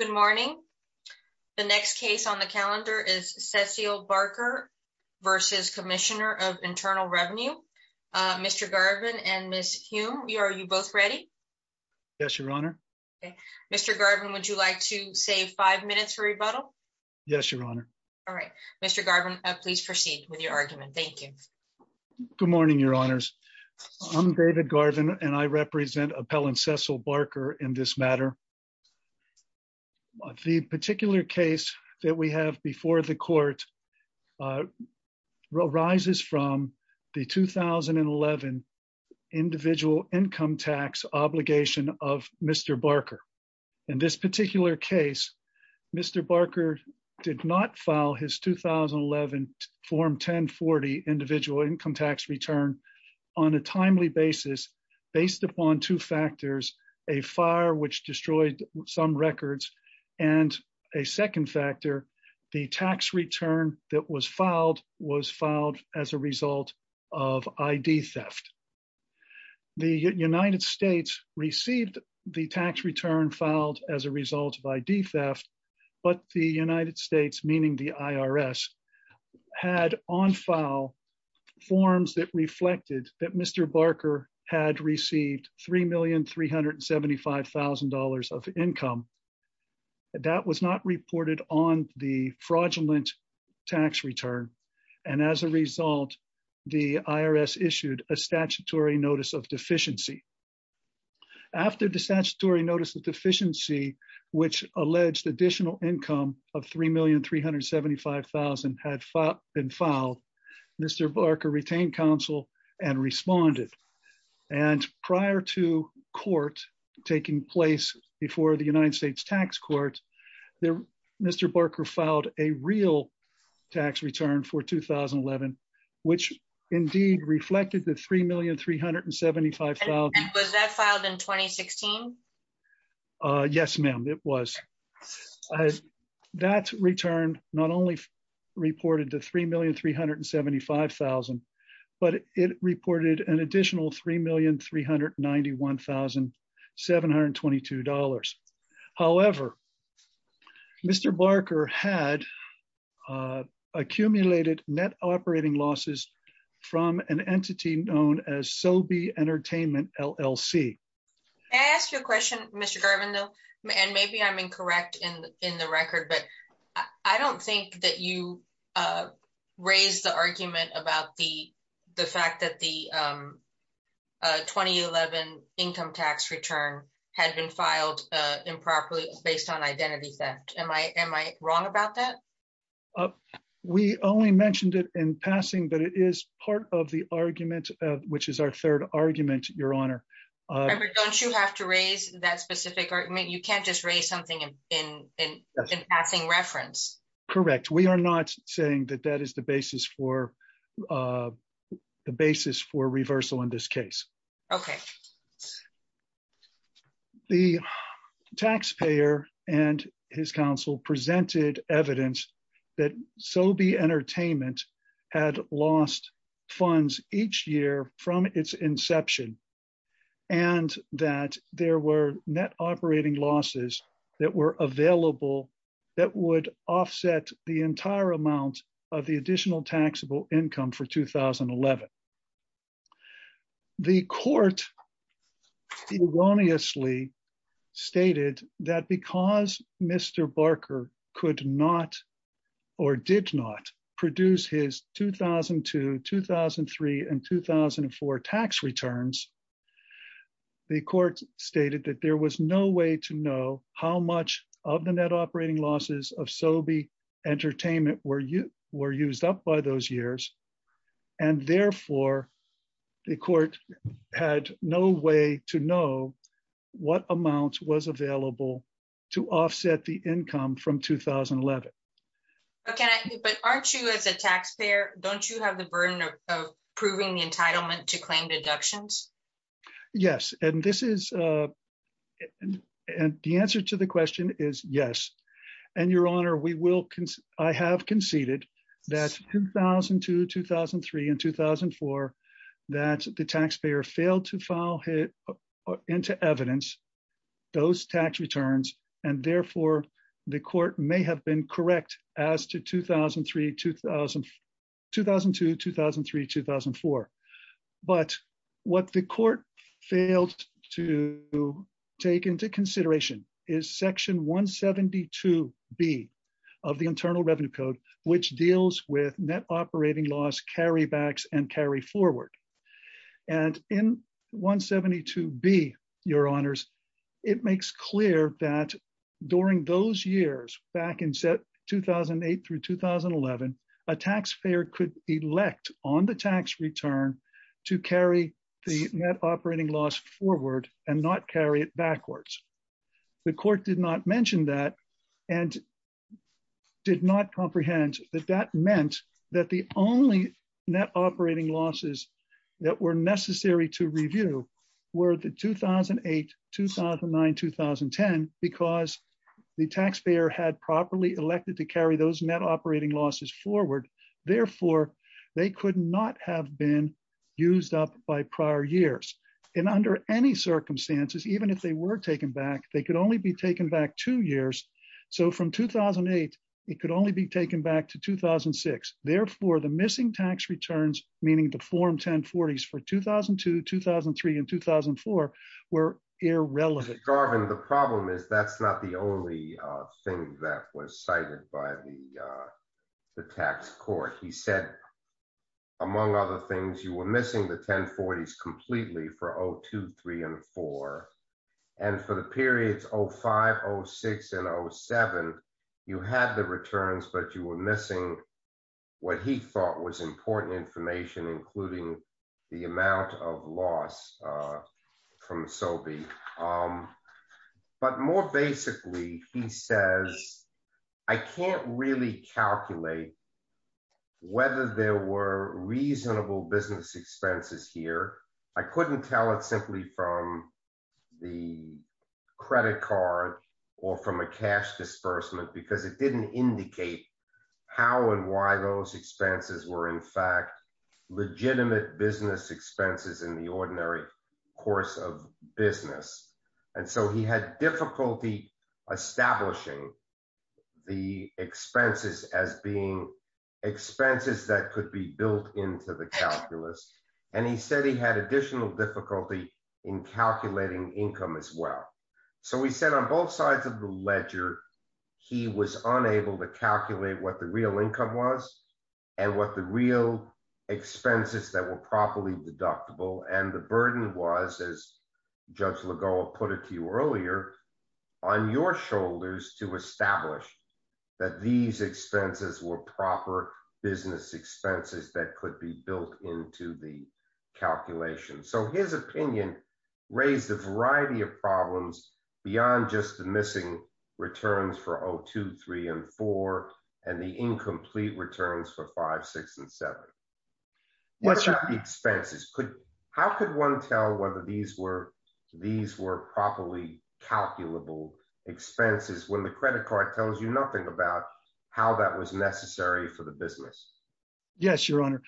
Good morning. The next case on the calendar is Cecile Barker v. Commissioner of Internal Revenue. Mr. Garvin and Ms. Hume, are you both ready? Yes, Your Honor. Mr. Garvin, would you like to save five minutes for rebuttal? Yes, Your Honor. All right. Mr. Garvin, please proceed with your argument. Thank you. Good morning, Your Honors. I'm David Garvin, and I represent Appellant Cecile Barker in this matter. The particular case that we have before the court arises from the 2011 Individual Income Tax Obligation of Mr. Barker. In this particular case, Mr. Barker did not file his 2011 Form 1040 Individual Income Tax Return on a timely basis based upon two factors, a fire which destroyed some records, and a second factor, the tax return that was filed was filed as a result of ID theft. The United States received the tax return filed as a had on file forms that reflected that Mr. Barker had received $3,375,000 of income. That was not reported on the fraudulent tax return. And as a result, the IRS issued a statutory notice of deficiency. After the statutory notice of deficiency, which alleged additional income of $3,375,000 had been filed, Mr. Barker retained counsel and responded. And prior to court taking place before the United States Tax Court, Mr. Barker filed a real tax return for 2011, which indeed reflected the $3,375,000. And was that filed in 2016? Yes, ma'am, it was. That return not only reported to $3,375,000, but it reported an additional $3,391,722. However, Mr. Barker had accumulated net operating losses from an entity known as SoBe Entertainment, LLC. May I ask you a question, Mr. Garvin, though? And maybe I'm incorrect in the record, but I don't think that you raised the argument about the fact that the 2011 income tax return had been filed improperly based on identity theft. Am I wrong about that? We only mentioned it in passing, but it is part of the argument, which is our third argument, Your Honor. Don't you have to raise that specific argument? You can't just raise something in passing reference. Correct. We are not saying that that is the basis for reversal in this case. Okay. The taxpayer and his counsel presented evidence that SoBe Entertainment had lost funds each year from its inception and that there were net operating losses that were available that would offset the entire amount of the additional taxable income for 2011. The court erroneously stated that because Mr. Barker could not or did not produce his 2002, 2003, and 2004 tax returns, the court stated that there was no way to know how much of the net the court had no way to know what amount was available to offset the income from 2011. But aren't you as a taxpayer, don't you have the burden of proving the entitlement to claim deductions? Yes. And the answer to the question is yes. And Your Honor, I have conceded that 2002, 2003, and 2004, that the taxpayer failed to file into evidence those tax returns. And therefore, the court may have been correct as to 2002, 2003, 2004. But what the court failed to take into consideration is Section 172B of the Internal Revenue Code, which deals with net operating loss carrybacks and carry forward. And in 172B, Your Honors, it makes clear that during those years back in set 2008 through 2011, a taxpayer could elect on the tax return to carry the net operating loss forward and not carry it backwards. The court did not mention that and did not comprehend that that meant that the only net operating losses that were necessary to review were the 2008, 2009, 2010, because the taxpayer had properly elected to carry those net operating losses forward. Therefore, they could not have been used up by prior years. And under any circumstances, even if they were taken back, they could only be taken back two years. So from 2008, it could only be taken back to 2006. Therefore, the missing tax returns, meaning the form 1040s for 2002, 2003, and 2004, were irrelevant. Garvin, the problem is that's not the only thing that was cited by the tax court. He said, among other things, you were missing the 1040s completely for 2002, 2003, and 2004. And for the periods 2005, 2006, and 2007, you had the returns, but you were missing what he thought was important information, including the amount of loss from SOBI. But more basically, he says, I can't really calculate whether there were reasonable business expenses here. I couldn't tell it simply from the credit card, or from a cash disbursement, because it didn't indicate how and why those expenses were, in fact, legitimate business expenses in the ordinary course of business. And so he had difficulty establishing the expenses as being expenses that could be built into the calculus. And he said he had additional difficulty in calculating income as well. So we said on both sides of the ledger, he was unable to calculate what the real income was, and what the real expenses that were properly deductible, and the burden was, as Judge Lagoa put it to you earlier, on your shoulders to establish that these expenses were proper business expenses that could be built into the calculation. So his opinion raised a variety of five, six, and seven. Expenses, how could one tell whether these were properly calculable expenses when the credit card tells you nothing about how that was necessary for the business? Yes, Your Honor,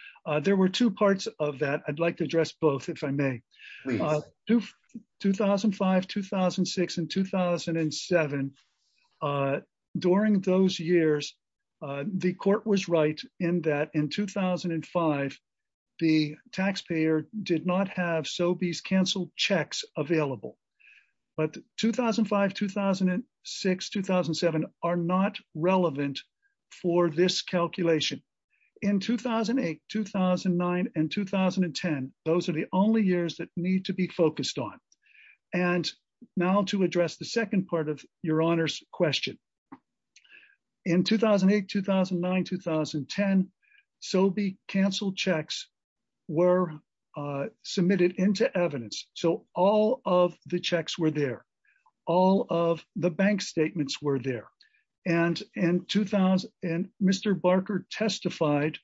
there were two parts of that. I'd like to address both, if I may. 2005, 2006, and 2007, during those years, the court was right in that in 2005, the taxpayer did not have Sobeys canceled checks available. But 2005, 2006, 2007 are not relevant for this calculation. In 2008, 2009, and 2010, those are the only years that need to be focused on. And now to address the second part of Your Honor's question. In 2008, 2009, 2010, Sobey canceled checks were submitted into evidence. So all of the checks were there. All of the bank statements were there. And in 2000, Mr. Barker testified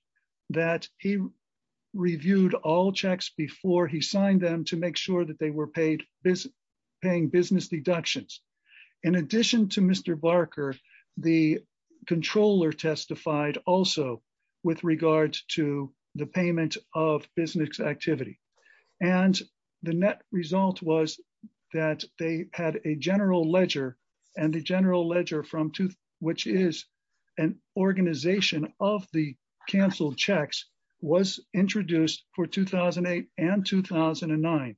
that he reviewed all checks before he signed them to make sure that they were paid business deductions. In addition to Mr. Barker, the controller testified also with regard to the payment of business activity. And the net result was that they had a general ledger. And the general ledger, which is an organization of the canceled checks, was introduced for 2008 and 2009.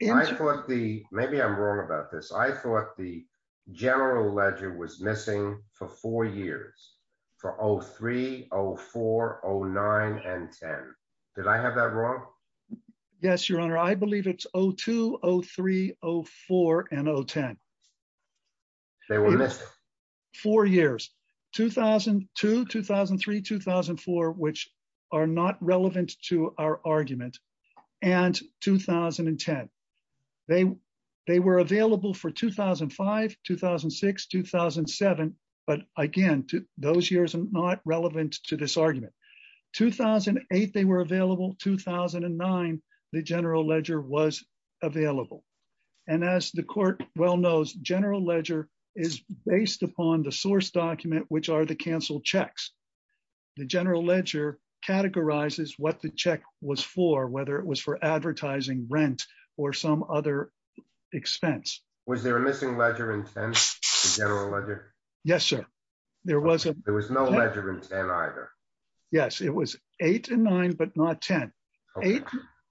Maybe I'm wrong about this. I thought the general ledger was missing for four years, for 03, 04, 09, and 10. Did I have that wrong? Yes, Your Honor, I believe it's 02, 03, 04, and 010. Four years, 2002, 2003, 2004, which are not relevant to our argument. And 2010. They, they were available for 2005, 2006, 2007. But again, those years are not relevant to this argument. 2008, they were available. 2009, the general ledger was available. And as the court well knows, general ledger is based upon the source document, which are the canceled checks. The general ledger categorizes what the check was for, whether it was for advertising rent, or some other expense. Was there a missing ledger in 10, the general ledger? Yes, sir. There was no ledger in 10 either. Yes, it was 8 and 9, but not 10.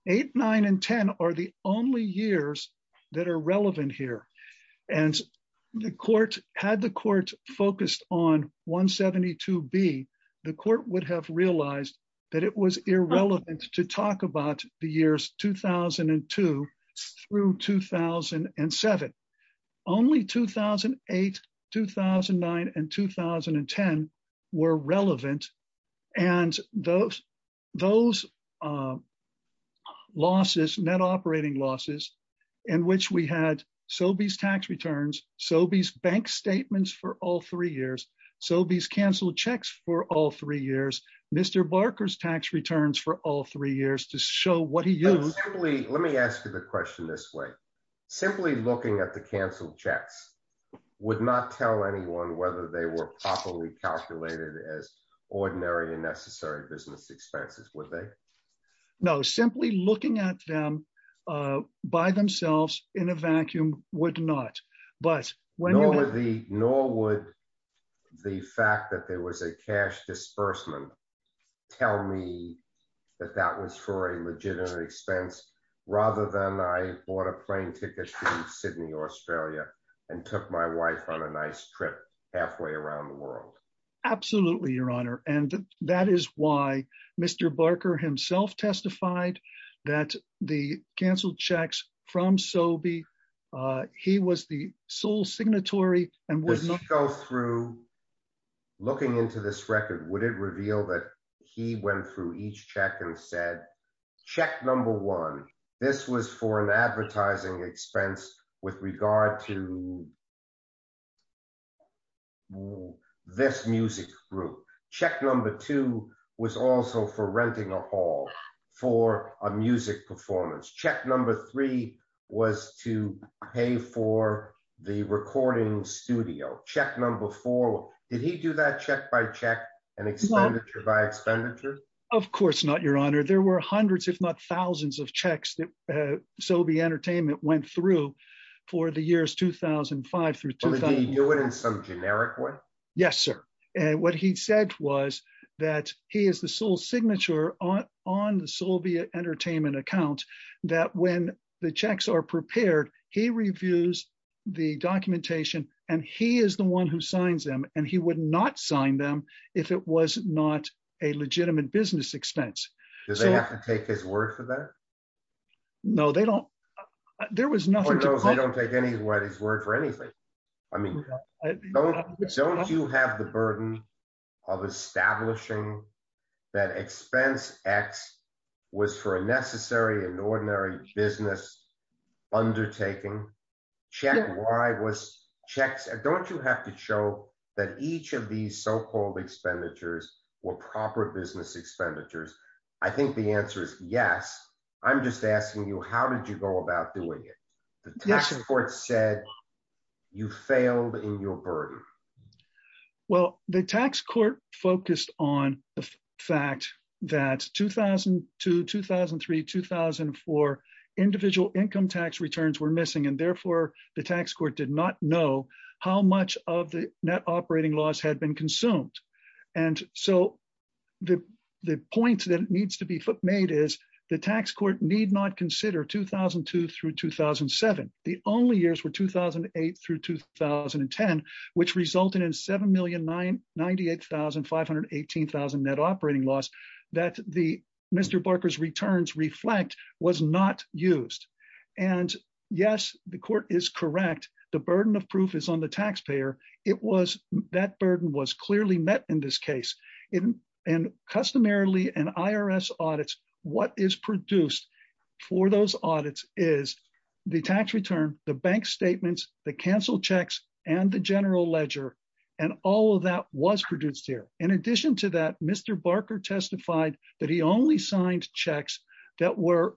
8, 9, and 10 are the only years that are relevant here. And the court had the court focused on 172B, the court would have realized that it was irrelevant to talk about the years 2002 through 2007. Only 2008, 2009, and 2010 were relevant. And those, those losses, net operating losses, in which we had so these tax returns, so these bank statements for all three years, so these canceled checks for all three years, Mr. Barker's tax returns for all three years to show what he used. Let me ask you the question this way. Simply looking at the canceled checks would not tell anyone whether they were properly calculated as ordinary and necessary business expenses, would they? No, simply looking at them by themselves in a vacuum would not. But when you know the nor would the fact that there was a cash disbursement, tell me that that was for a legitimate expense, rather than I bought a plane ticket to Sydney, Australia, and took my wife on a nice trip halfway around the world. Absolutely, Your Honor. And that is why Mr. Barker himself testified that the canceled checks from Sobe, he was the sole signatory and would not go through. Looking into this record, would it reveal that he went through each check and said, check number one, this was for an advertising expense with regard to this music group. Check number two was also for renting a hall for a music performance. Check number three was to pay for the recording studio. Check number four, did he do that check by check and expenditure by expenditure? Of course not, Your Honor. There were hundreds if not thousands of checks that Sobe Entertainment went through for the years 2005 through 2000. Did he do it in some generic way? Yes, sir. And what he said was that he is the sole signature on the Sobe Entertainment account, that when the checks are prepared, he reviews the documentation, and he is the one who signs them and he would not sign them if it was not a legitimate business expense. Does he have to take his word for that? No, they don't. There was nothing. They don't take his word for anything. I mean, don't you have the burden of establishing that expense X was for a necessary and ordinary business undertaking? Don't you have to show that each of these so-called expenditures were proper business expenditures? I think the answer is yes. I'm just asking you, how did you go about doing it? The tax court said you failed in your burden. Well, the tax court focused on the fact that 2002 2003 2004 individual income tax returns were missing and therefore the tax court did not know how much of the net operating loss had been consumed. And so the point that needs to be made is the tax court need not consider 2002 through 2007. The only years were 2008 through 2010, which resulted in 7,098,518 net operating loss that Mr. Barker's returns reflect was not used. And yes, the court is correct. The burden of it. And customarily an IRS audits, what is produced for those audits is the tax return, the bank statements, the canceled checks and the general ledger. And all of that was produced here. In addition to that, Mr. Barker testified that he only signed checks that were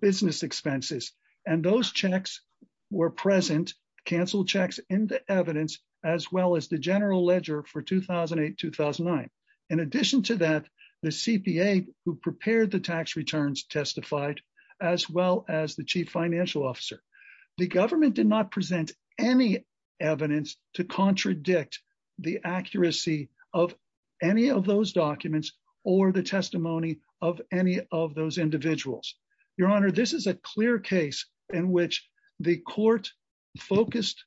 business expenses. And those checks were present canceled checks into evidence, as well as the general ledger for 2008 2009. In addition to that, the CPA who prepared the tax returns testified, as well as the chief financial officer. The government did not present any evidence to contradict the accuracy of any of those documents or the testimony of any of those individuals. Your Honor, this is a clear case in which the court focused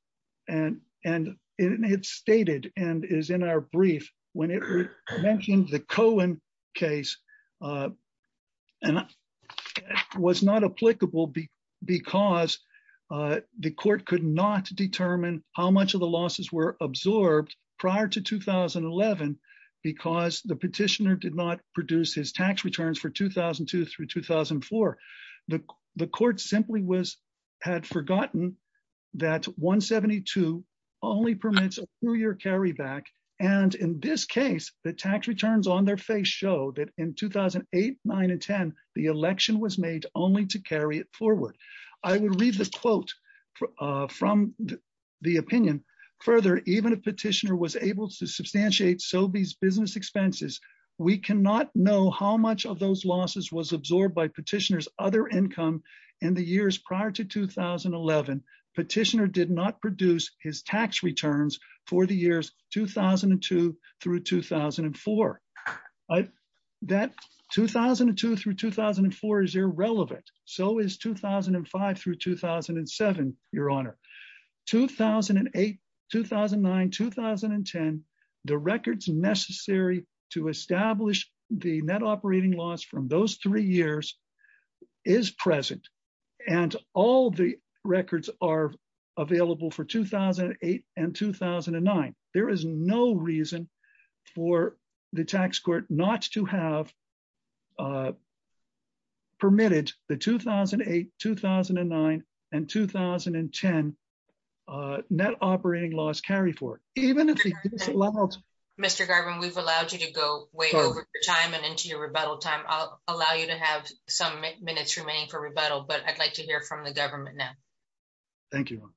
and and it stated and is in our brief when it mentioned the Cohen case. And was not applicable because the court could not determine how much of the losses were absorbed prior to 2011. Because the petitioner did not produce his tax returns for 2002 through 2004. The court simply was had forgotten that 172 only permits a two year carryback. And in this case, the tax returns on their face show that in 2008, nine and 10, the election was made only to carry it forward. I will read the quote from the opinion. Further, even a petitioner was able to substantiate so these business expenses, we cannot know how much of those losses was absorbed by petitioners other income in the years prior to 2011. Petitioner did not produce his tax returns for the years 2002 through 2004. That 2002 through 2004 is irrelevant. So is 2005 through 2007. Your Honor, 2008 2009 2010, the records necessary to establish the net operating loss from those three years is present. And all the records are available for 2008 and 2009. There is no reason for the tax court not to have permitted the 2008 2009 and 2010 net operating loss carry for even if Mr. Garvin, we've allowed you to go way over time and into your rebuttal time. I'll allow you to have some minutes remaining for rebuttal, but I'd like to hear from the government now. Thank you.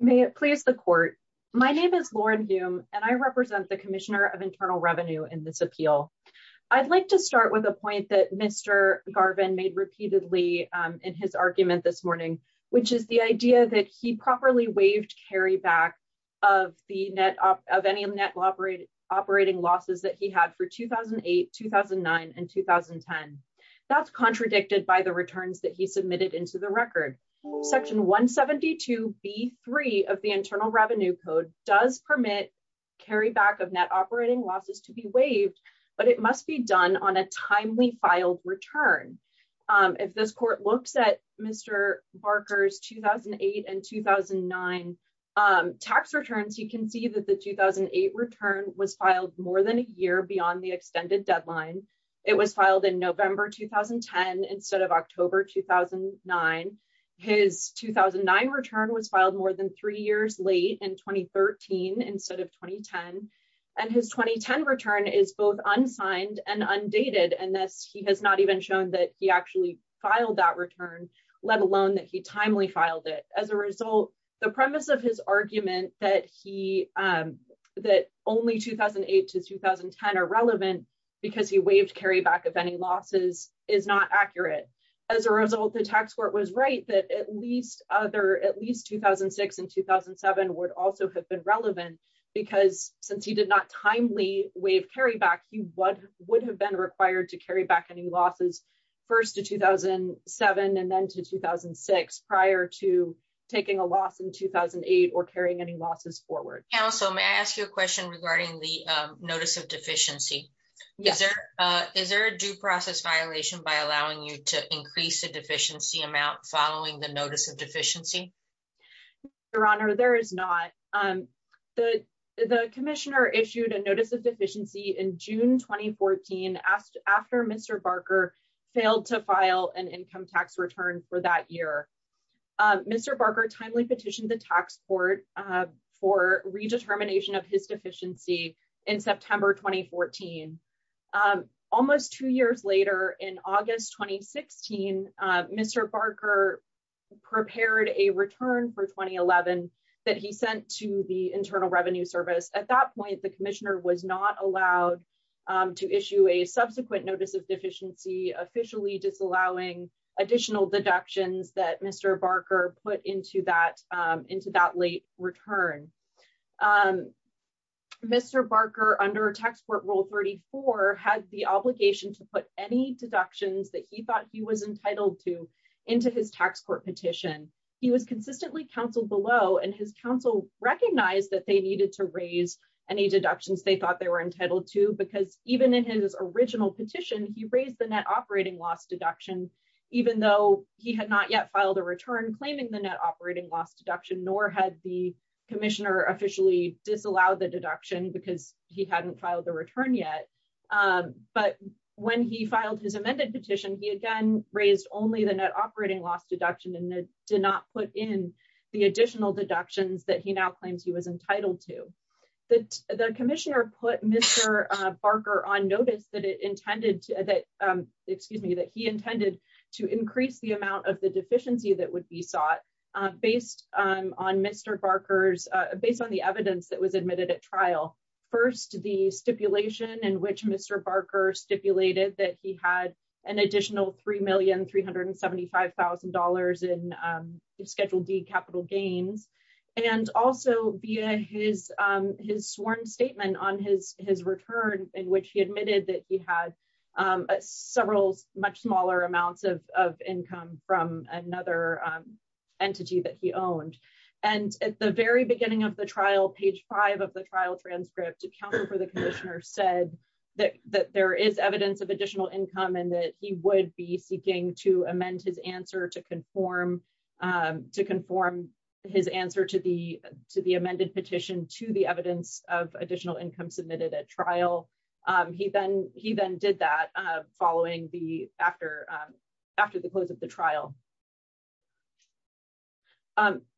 May it please the court. My name is Lauren Hume, and I represent the Commissioner of Internal Revenue in this appeal. I'd like to start with a point that Mr. Garvin made repeatedly in his argument this morning, which is the idea that he properly waived carry back of the net of any net operating operating losses that he had for 2008 2009 and 2010. That's contradicted by the returns that he submitted into the record. Section 172 B three of the Internal Revenue Code does permit carry back of net operating losses to be waived, but it must be done on a timely filed return. If this court looks at Mr. Barker's 2008 and 2009 tax returns, you can see that the 2008 return was filed more than a year beyond the extended deadline. It was filed in November 2010 instead of October 2009. His 2009 return was filed more than three years late in 2013 instead of showing that he actually filed that return, let alone that he timely filed it. As a result, the premise of his argument that only 2008 to 2010 are relevant because he waived carry back of any losses is not accurate. As a result, the tax court was right that at least 2006 and 2007 would also have been relevant because since he did not timely waive carry back, he would have been required to carry back any losses first to 2007 and then to 2006 prior to taking a loss in 2008 or carrying any losses forward. Also, may I ask you a question regarding the notice of deficiency? Is there a due process violation by allowing you to increase the deficiency amount following the notice of deficiency? Your Honor, there is not. The Commissioner issued a notice of deficiency in June 2014 after Mr. Barker failed to file an income tax return for that year. Mr. Barker timely petitioned the tax court for redetermination of his deficiency in September 2014. Almost two years later in August 2016, Mr. Barker prepared a return for 2011 that he sent to the Internal Revenue Service. At that point, the Commissioner was not allowed to issue a subsequent notice of deficiency officially disallowing additional deductions that Mr. Barker put into that late return. Mr. Barker under Tax Court Rule 34 had the obligation to put any deductions that he thought he was entitled to into his tax court petition. He was consistently counseled below and his counsel recognized that they needed to raise any deductions they thought they were entitled to because even in his original petition, he raised the net operating loss deduction even though he had not yet filed a return claiming the net operating loss deduction, nor had the Commissioner officially disallowed the deduction because he hadn't filed the return yet. But when he filed his amended petition, he again raised only the net operating loss deduction and did not put in the additional deductions that he now claims he was entitled to. The Commissioner put Mr. Barker on notice that he intended to increase the amount of the deficiency that would be sought based on the evidence that was admitted at trial. First, the stipulation in which Mr. Barker stipulated that he had an additional $3,375,000 in Schedule D capital gains, and also via his sworn statement on his return in which he admitted that he had several much smaller amounts of income from another entity that he owned. And at the very beginning of the trial, page five of the trial transcript, the counsel for the Commissioner said that there is evidence of additional income and that he would be seeking to amend his answer to conform his answer to the amended petition to the evidence of additional income submitted at trial. He then did that after the close of the trial.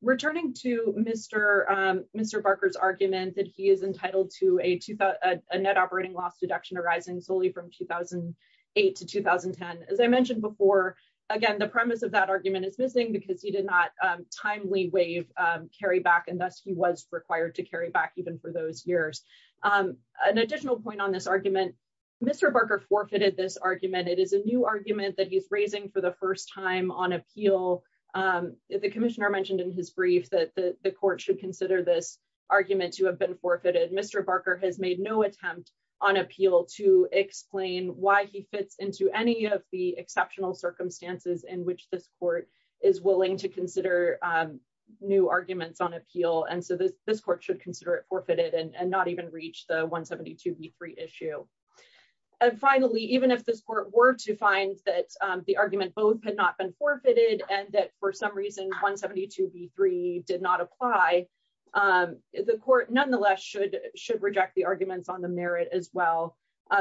Returning to Mr. Barker's argument that he is entitled to a net operating loss deduction arising solely from 2008 to 2010, as I mentioned before, again, the premise of that argument is missing because he did not timely waive carryback and thus he was required to carry back even for those years. An additional point on this argument, Mr. Barker forfeited this argument. It is a new argument that he's raising for the first time on appeal. The Commissioner mentioned in his brief that the court should consider this argument to have been forfeited. Mr. Barker has made no attempt on appeal to explain why he fits into any of the exceptional circumstances in which this court is willing to consider new arguments on appeal. And so this court should consider it forfeited and not even reach the 172 v. 3 issue. And finally, even if this court were to find that the argument both had not been forfeited and that for some reason 172 v. 3 did not apply, the court nonetheless should reject the arguments on the merit as well.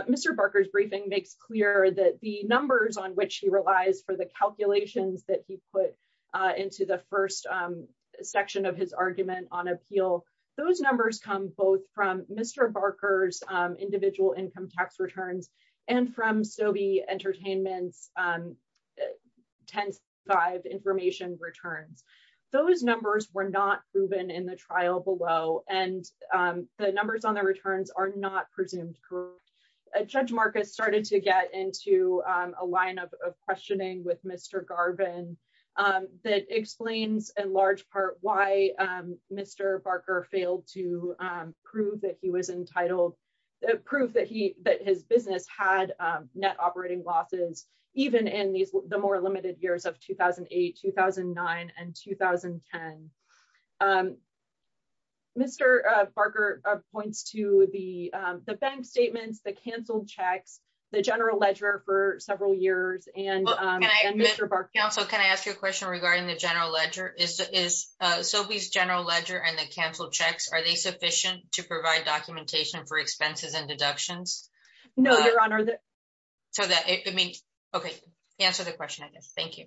Mr. Barker's briefing makes clear that the numbers on which he relies for the calculations that he put into the first section of his argument on appeal, those numbers come both from Mr. Barker's individual income tax returns and from Stobie Entertainment's 10-5 information returns. Those numbers were not proven in the trial below, and the numbers on the returns are not presumed. Judge Marcus started to get into a lineup of questioning with Mr. Garvin that explains in large part why Mr. Barker failed to prove that his business had net operating losses even in the more limited years of 2008, 2009, and 2010. Mr. Barker points to the bank statements, the canceled checks, the general ledger for several years, and Mr. Barker- Counsel, can I ask you a question regarding the general ledger? Is it sufficient to provide documentation for expenses and deductions? No, Your Honor. Okay. Answer the question, I guess. Thank you.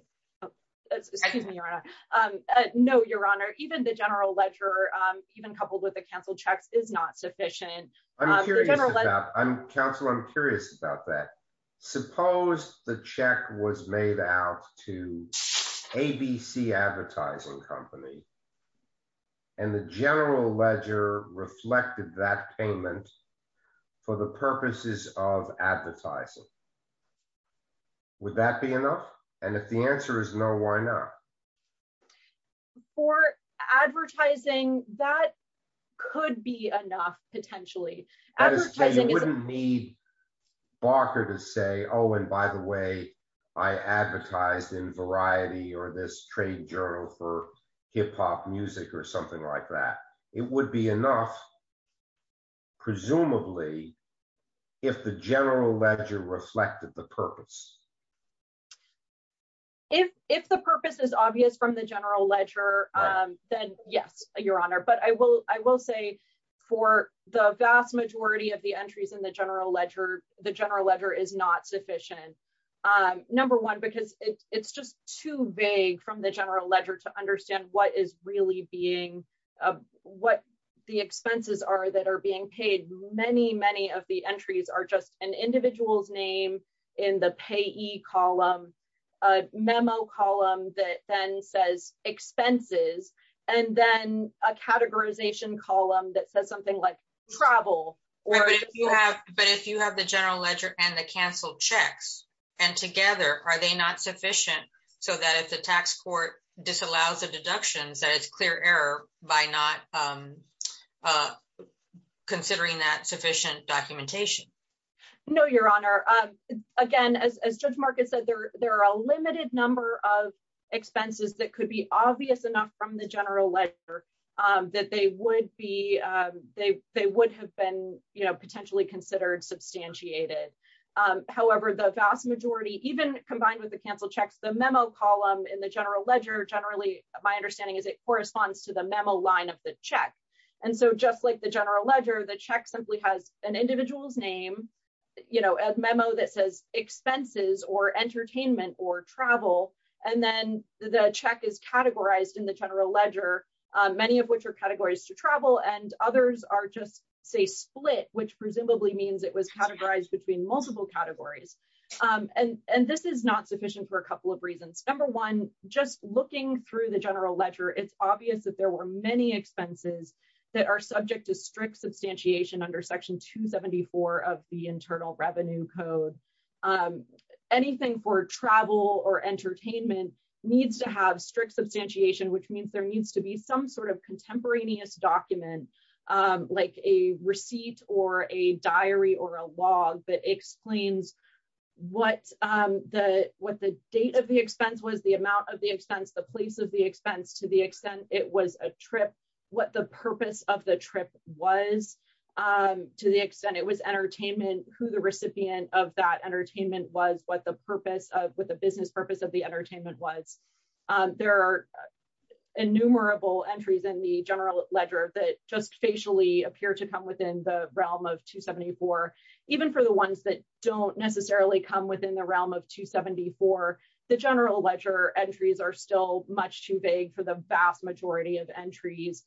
Excuse me, Your Honor. No, Your Honor. Even the general ledger, even coupled with the canceled checks is not sufficient. Counsel, I'm curious about that. Suppose the check was made out to ABC Advertising Company, and the general ledger reflected that payment for the purposes of advertising. Would that be enough? And if the answer is no, why not? For advertising, that could be enough, potentially. You wouldn't need Barker to say, oh, and by the way, I advertised in Variety or this trade journal for hip hop music or something like that. It would be enough, presumably, if the general ledger reflected the purpose. If the purpose is obvious from the general ledger, then yes, Your Honor. But I will say for the vast majority of the entries in the general ledger, the general ledger is not sufficient. Number one, because it's just too vague from the general ledger to understand what the expenses are that are being paid. Many, many of the entries are just an individual's name in the payee column, a memo column that then says expenses, and then a categorization column that says something like travel. But if you have the general ledger and the canceled checks, and together, are they not sufficient so that if the tax court disallows the deductions, that it's clear error by not considering that sufficient documentation? No, Your Honor. Again, as Judge Marcus said, there are a limited number of expenses that could be obvious enough from the general ledger that they would have been potentially considered substantiated. However, the vast majority, even combined with the canceled checks, the memo column in the general ledger, generally, my understanding is it corresponds to the memo line of the check. And so just like the general ledger, the check simply has an individual's name, a memo that says expenses or entertainment or travel, and then the check is categorized in the general ledger, many of which are categories to travel, and others are just, say, split, which presumably means it was categorized between multiple categories. And this is not sufficient for a couple of reasons. Number one, just looking through the general ledger, it's obvious that there were many expenses that are subject to strict substantiation under Section 274 of the Internal Revenue Code. Anything for travel or entertainment needs to have strict substantiation, which means there needs to be some sort of contemporaneous document, like a receipt or a diary or a log that explains what the date of the expense was, the amount of the expense, the place of the expense, to the extent it was a trip, what the purpose of the trip was, to the extent it was entertainment, who the recipient of that entertainment was, what the business purpose of the entertainment was. There are innumerable entries in the general ledger that just facially appear to come within the realm of 274. Even for the ones that don't necessarily come within the realm of 274, the general ledger entries are still much too vague for the vast majority of entries,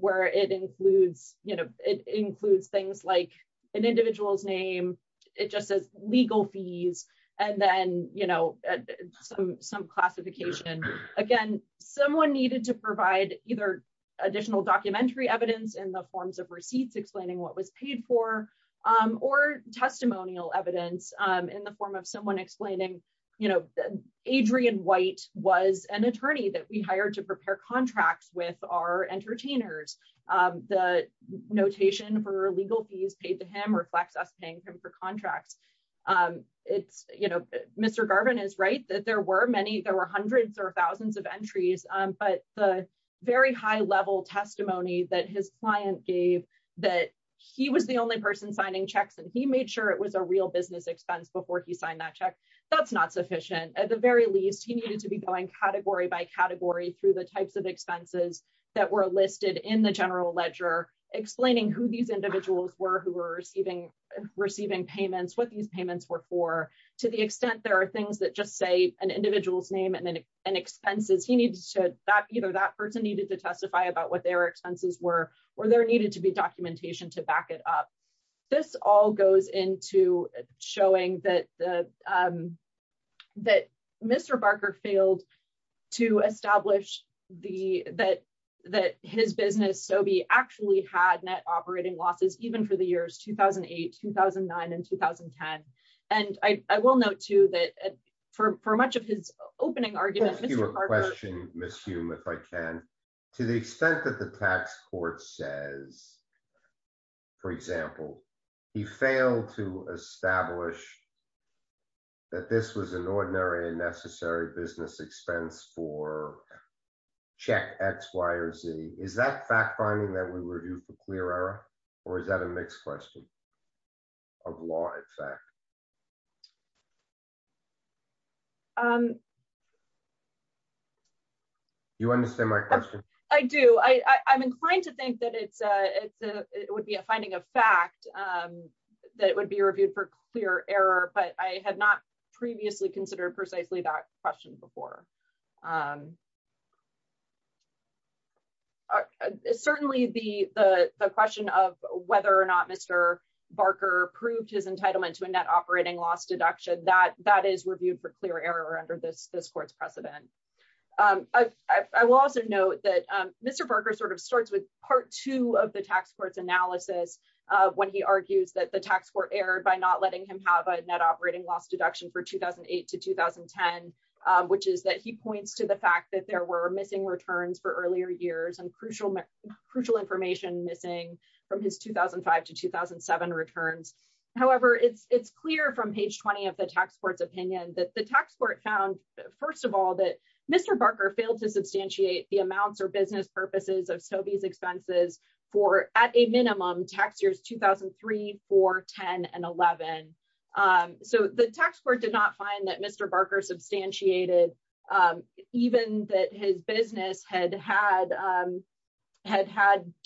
where it includes things like an individual's name, it just says legal fees, and then some classification. Again, someone needed to provide either additional documentary evidence in the forms of receipts explaining what was paid for or testimonial evidence in the form of someone explaining, you know, Adrian White was an attorney that we hired to prepare contracts with our entertainers. The notation for legal fees paid to him reflects us paying him for contracts. It's, you know, Mr. Garvin is right that there were many, there were hundreds or thousands of entries, but the very high level testimony that his client gave that he was the only person signing checks and he made sure it was a real business expense before he signed that check, that's not sufficient. At the very least, he needed to be going category by category through the types of expenses that were listed in the general ledger, explaining who these individuals were who were receiving payments, what these payments were for. To the extent there are things that just say an individual's name and then expenses, he needed to, that either that person needed to testify about what their expenses were or there needed to be to back it up. This all goes into showing that Mr. Barker failed to establish that his business, Sobe, actually had net operating losses, even for the years 2008, 2009, and 2010. And I will note too that for much of his opening argument- Ms. Hume, if I can, to the extent that the tax court says, for example, he failed to establish that this was an ordinary and necessary business expense for check X, Y, or Z, is that fact finding that we were due for clear error or is that a mixed question of law effect? Do you understand my question? I do. I'm inclined to think that it would be a finding of fact that it would be reviewed for clear error, but I had not previously considered precisely that question before. Certainly, the question of whether or not Mr. Barker proved his entitlement to a net operating loss deduction, that is reviewed for clear error under this court's precedent. I will also note that Mr. Barker sort of starts with part two of the tax court's analysis when he argues that the tax court erred by not letting him have a net operating loss deduction for 2008 to 2010, which is that he points to the fact that there were missing returns for earlier years and crucial information missing from his 2005 to 2007 returns. However, it's clear from page 20 of the tax court's opinion that the tax court found, first of all, that Mr. Barker failed to substantiate the amounts or business purposes of Sobey's expenses for, at a minimum, tax years 2003, 4, 10, and 11. So the tax court did not find that Mr. Barker substantiated even that his business had had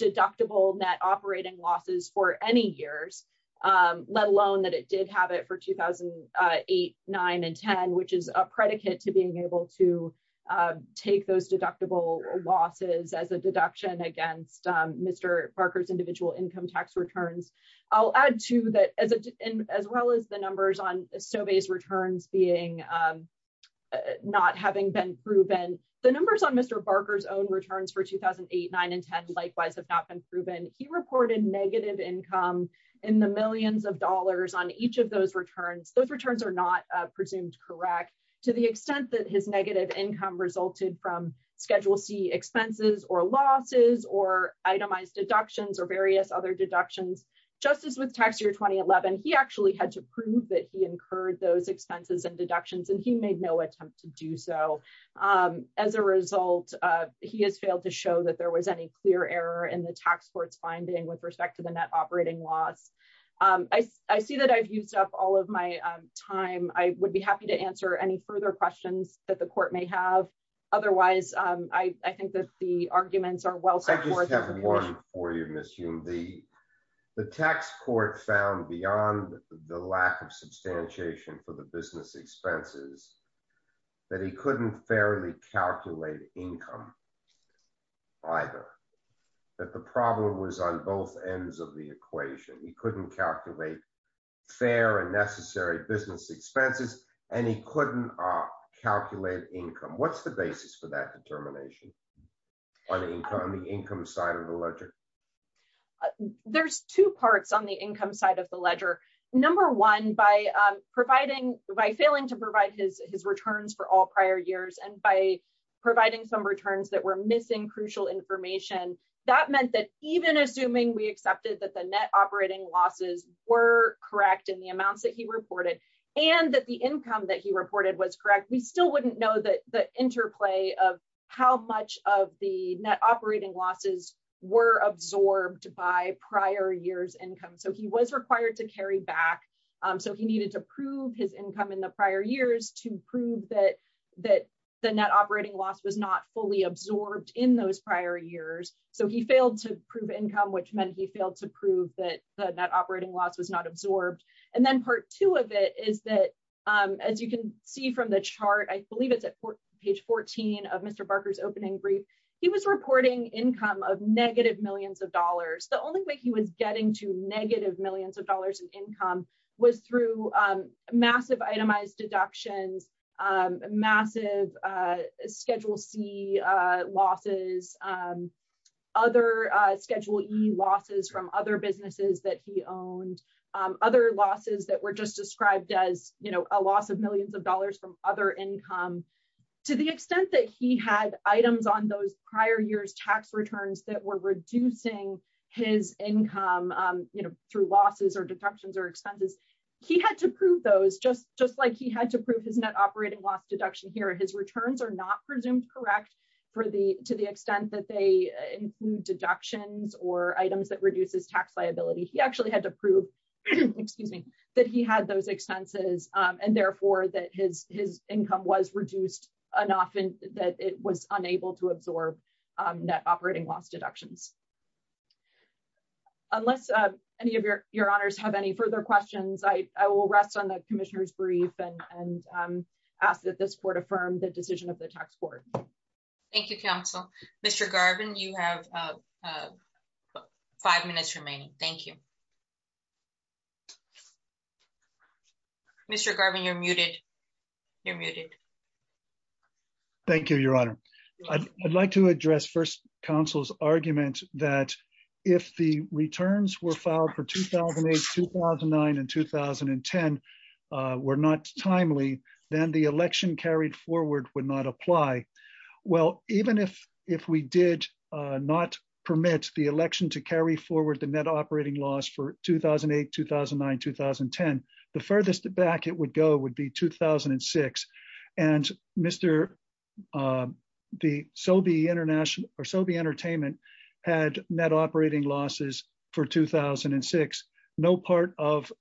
deductible net operating losses for any years, let alone that it did have it for 2008, 9, and 10, which is a predicate to being able to take those deductible losses as a deduction against Mr. Barker's individual income tax returns. I'll add, too, that as well as the numbers on Sobey's returns not having been proven, the numbers on Mr. Barker's own returns for 2008, 9, and 10 likewise have not been proven. He reported negative income in the millions of to the extent that his negative income resulted from Schedule C expenses or losses or itemized deductions or various other deductions. Just as with tax year 2011, he actually had to prove that he incurred those expenses and deductions, and he made no attempt to do so. As a result, he has failed to show that there was any clear error in the tax court's finding with respect to the net any further questions that the court may have. Otherwise, I think that the arguments are well supported. I just have one for you, Ms. Hume. The tax court found beyond the lack of substantiation for the business expenses that he couldn't fairly calculate income either, that the problem was on fair and necessary business expenses, and he couldn't calculate income. What's the basis for that determination on the income side of the ledger? There's two parts on the income side of the ledger. Number one, by failing to provide his returns for all prior years and by providing some returns that were missing crucial information, that meant that even assuming we accepted that net operating losses were correct in the amounts that he reported and that the income that he reported was correct, we still wouldn't know the interplay of how much of the net operating losses were absorbed by prior years income. He was required to carry back. He needed to prove his income in the prior years to prove that the net operating loss was not fully absorbed in those prior years. He failed to prove income, which meant he failed to prove that the net operating loss was not absorbed. Then part two of it is that, as you can see from the chart, I believe it's at page 14 of Mr. Barker's opening brief, he was reporting income of negative millions of dollars. The only way he was getting to negative millions of dollars in income was through massive itemized deductions, massive Schedule C losses, other Schedule E losses from other businesses that he owned, other losses that were just described as a loss of millions of dollars from other income. To the extent that he had items on those prior years tax returns that were reducing his income through losses or deductions or expenses, he had to prove those just like he had to prove his net operating loss deduction here. His returns are not presumed correct to the extent that they include deductions or items that reduces tax liability. He actually had to prove that he had those expenses and therefore that his income was reduced enough that it was unable to absorb net operating loss deductions. Unless any of your honors have any further questions, I will rest on the commissioner's brief and ask that this court affirm the decision of the tax court. Thank you, counsel. Mr. Garvin, you have five minutes remaining. Thank you. Mr. Garvin, you're muted. You're muted. Thank you, your honor. I'd like to address first counsel's argument that if the returns were filed for 2008, 2009 and 2010 were not timely, then the election carried forward would not apply. Well, even if we did not permit the election to carry forward the net operating loss for 2008, 2009, 2010, the furthest back it would go would be 2006. And the Sobey entertainment had net operating losses for 2006. No part of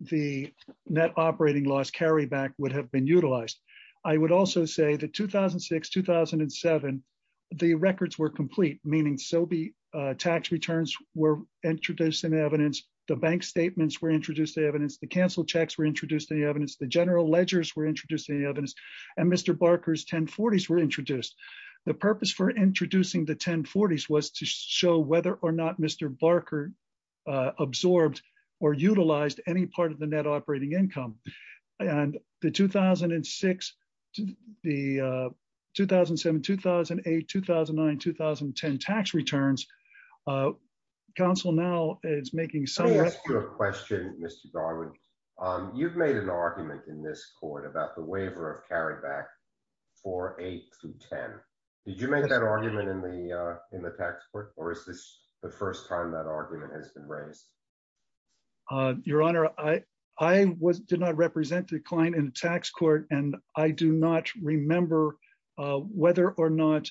the net operating loss carryback would have been utilized. I would also say that 2006, 2007, the records were complete, meaning Sobey tax returns were introduced in evidence, the bank statements were introduced to evidence, the cancel checks were introduced to evidence, the general ledgers were introduced to evidence, and Mr. Barker's 1040s were introduced. The purpose for introducing the 1040s was to show whether or not Mr. Barker absorbed or utilized any part of the net operating income. And the 2006 to the 2007 2008 2009 2010 tax returns. Council now is making some question, Mr. Garwood. You've made an argument in this court about the waiver of carryback for eight to 10. Did you make that argument in the in the tax court? Or is this the first time argument has been raised? Your Honor, I, I was did not represent the client in tax court. And I do not remember whether or not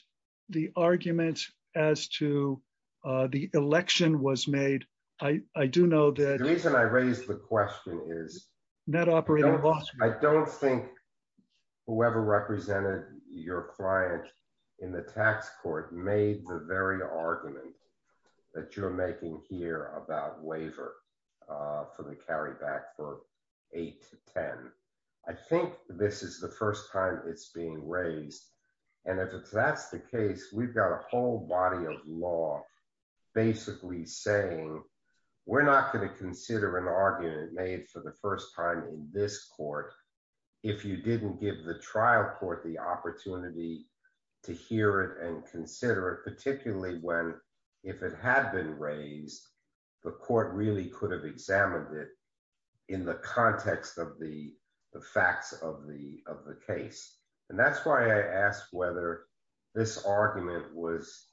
the argument as to the election was made. I do know that the reason I raised the question is not operating. I don't think whoever represented your client in the tax court made the very argument that you're making here about waiver for the carryback for eight to 10. I think this is the first time it's being raised. And if that's the case, we've got a whole body of law, basically saying, we're not going to consider an argument made for the first time in this court. If you didn't give the trial court the opportunity to hear it and consider it, particularly when, if it had been raised, the court really could have examined it in the context of the facts of the of the case. And that's why I asked whether this argument was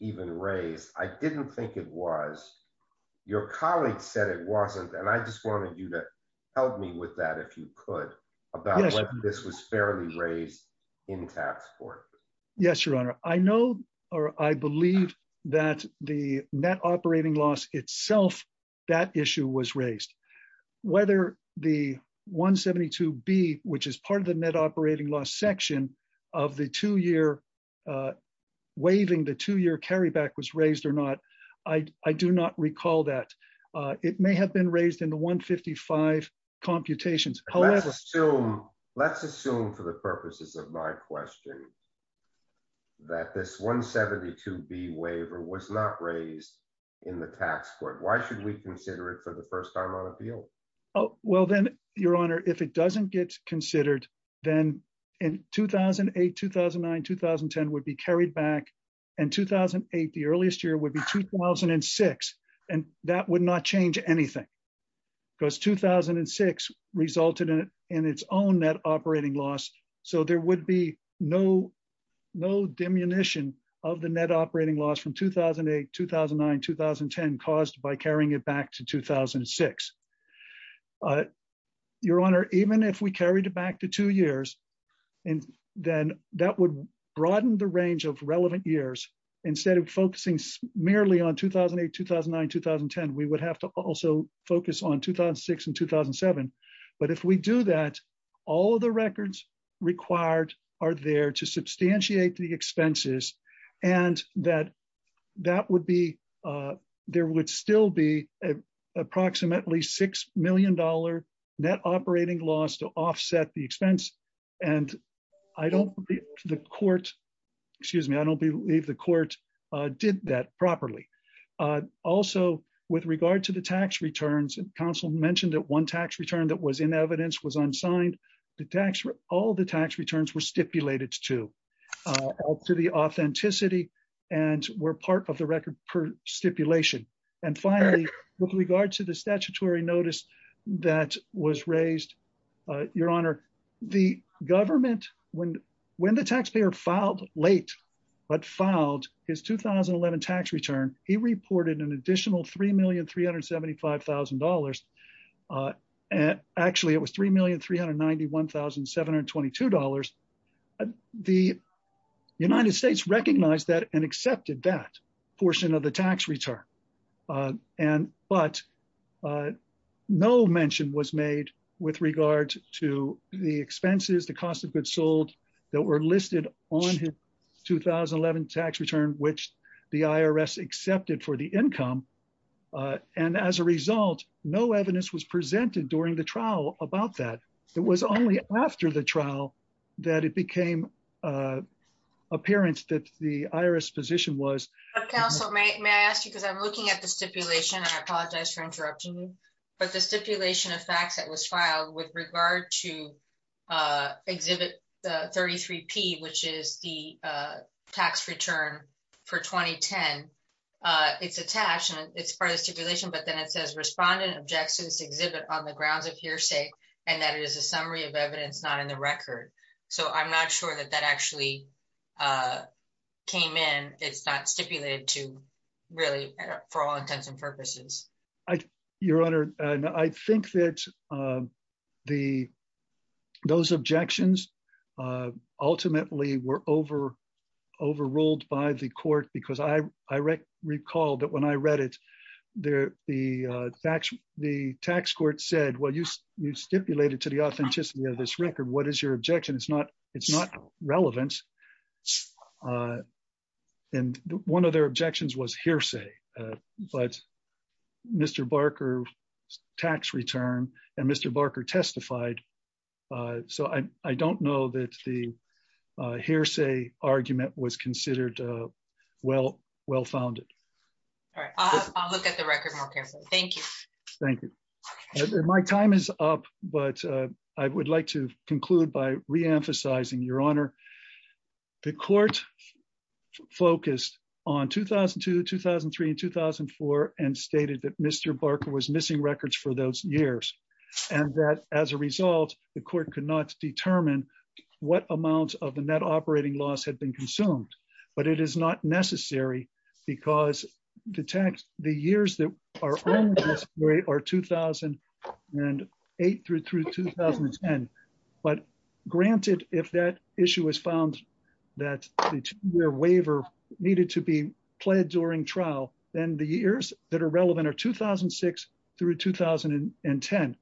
even raised. I didn't think it was. Your colleague said it wasn't. And I just wanted you to help me with that, if you could, about this was fairly raised in tax court. Yes, Your Honor, I know, or I believe that the net operating loss itself, that issue was raised, whether the 172 B, which is part of the net operating loss section of the two year waiving the two year carryback was raised or not. I do not recall that it may have been raised in the 155 computations. However, so let's assume for the purposes of my question, that this 172 B waiver was not raised in the tax court. Why should we consider it for the 10 would be carried back. And 2008, the earliest year would be 2006. And that would not change anything. Because 2006 resulted in its own net operating loss. So there would be no, no diminution of the net operating loss from 2008 2009 2010 caused by carrying it back to 2006. But Your Honor, even if we carried it back to two years, and then that would broaden the range of relevant years, instead of focusing merely on 2008 2009 2010, we would have to also focus on 2006 and 2007. But if we do that, all the records required are there to substantiate the expenses, and that that would be, there would still be approximately $6 million net operating loss to offset the expense. And I don't believe the court, excuse me, I don't believe the court did that properly. Also, with regard to the tax returns, and counsel mentioned that one tax return that was in evidence was unsigned, the tax, all the tax returns were stipulated to, to the authenticity, and were part of the record per stipulation. And finally, with regard to the statutory notice that was raised, Your Honor, the government when when the taxpayer filed late, but filed his 2011 tax return, he reported an additional $3,375,000. And actually, it was $3,391,722. The United States recognized that and accepted that portion of the tax return. And but no mention was made with regard to the expenses, the cost of goods sold that were listed on his 2011 tax return, which the IRS accepted for the income. And as a result, no evidence was presented during the trial about that. It was only after the trial, that it became appearance that the IRS position was counsel may ask you because I'm looking at the stipulation. And I apologize for interrupting you. But the stipulation of facts that was filed with regard to exhibit the 33 p, which is the tax return for 2010. It's attached and it's part of the stipulation. But then it hearsay, and that is a summary of evidence not in the record. So I'm not sure that that actually came in. It's not stipulated to really, for all intents and purposes. Your Honor, I think that the those objections ultimately were over overruled by the court, because I, I recall that when I read it, there, the facts, the tax court said, Well, you, you stipulated to the authenticity of this record, what is your objection? It's not, it's not relevant. And one of their objections was hearsay. But Mr. Barker, tax return, and Mr. Barker testified. So I don't know that the hearsay argument was considered well, well founded. All right, I'll look at the record. Thank you. Thank you. My time is up. But I would like to conclude by reemphasizing Your Honor, the court focused on 2002 2003 and 2004 and stated that Mr. Barker was missing records for those years. And that as a result, the court could not determine what amount of the net operating loss had been consumed. But it is not necessary, because detect the years that are are 2008 through 2010. But granted, if that issue was found, that waiver needed to be pled during trial, then the years that are relevant are 2006 through 2010.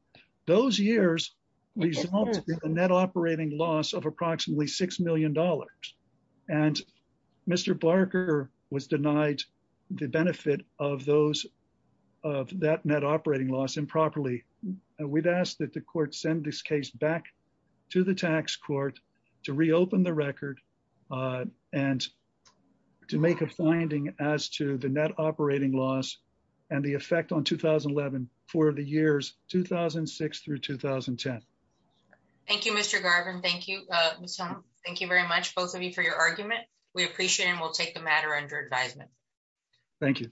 Those years, we saw a net operating loss of approximately $6 million. And Mr. Barker was denied the benefit of those of that net operating loss improperly. We'd ask that the court send this case back to the tax court to reopen the record and to make a finding as to the net operating loss and the effect on 2011 for the years 2006 through 2010. Thank you, Mr. Garvin. Thank you. Thank you very much, both of you for your argument. We appreciate and we'll take the matter under advisement. Thank you.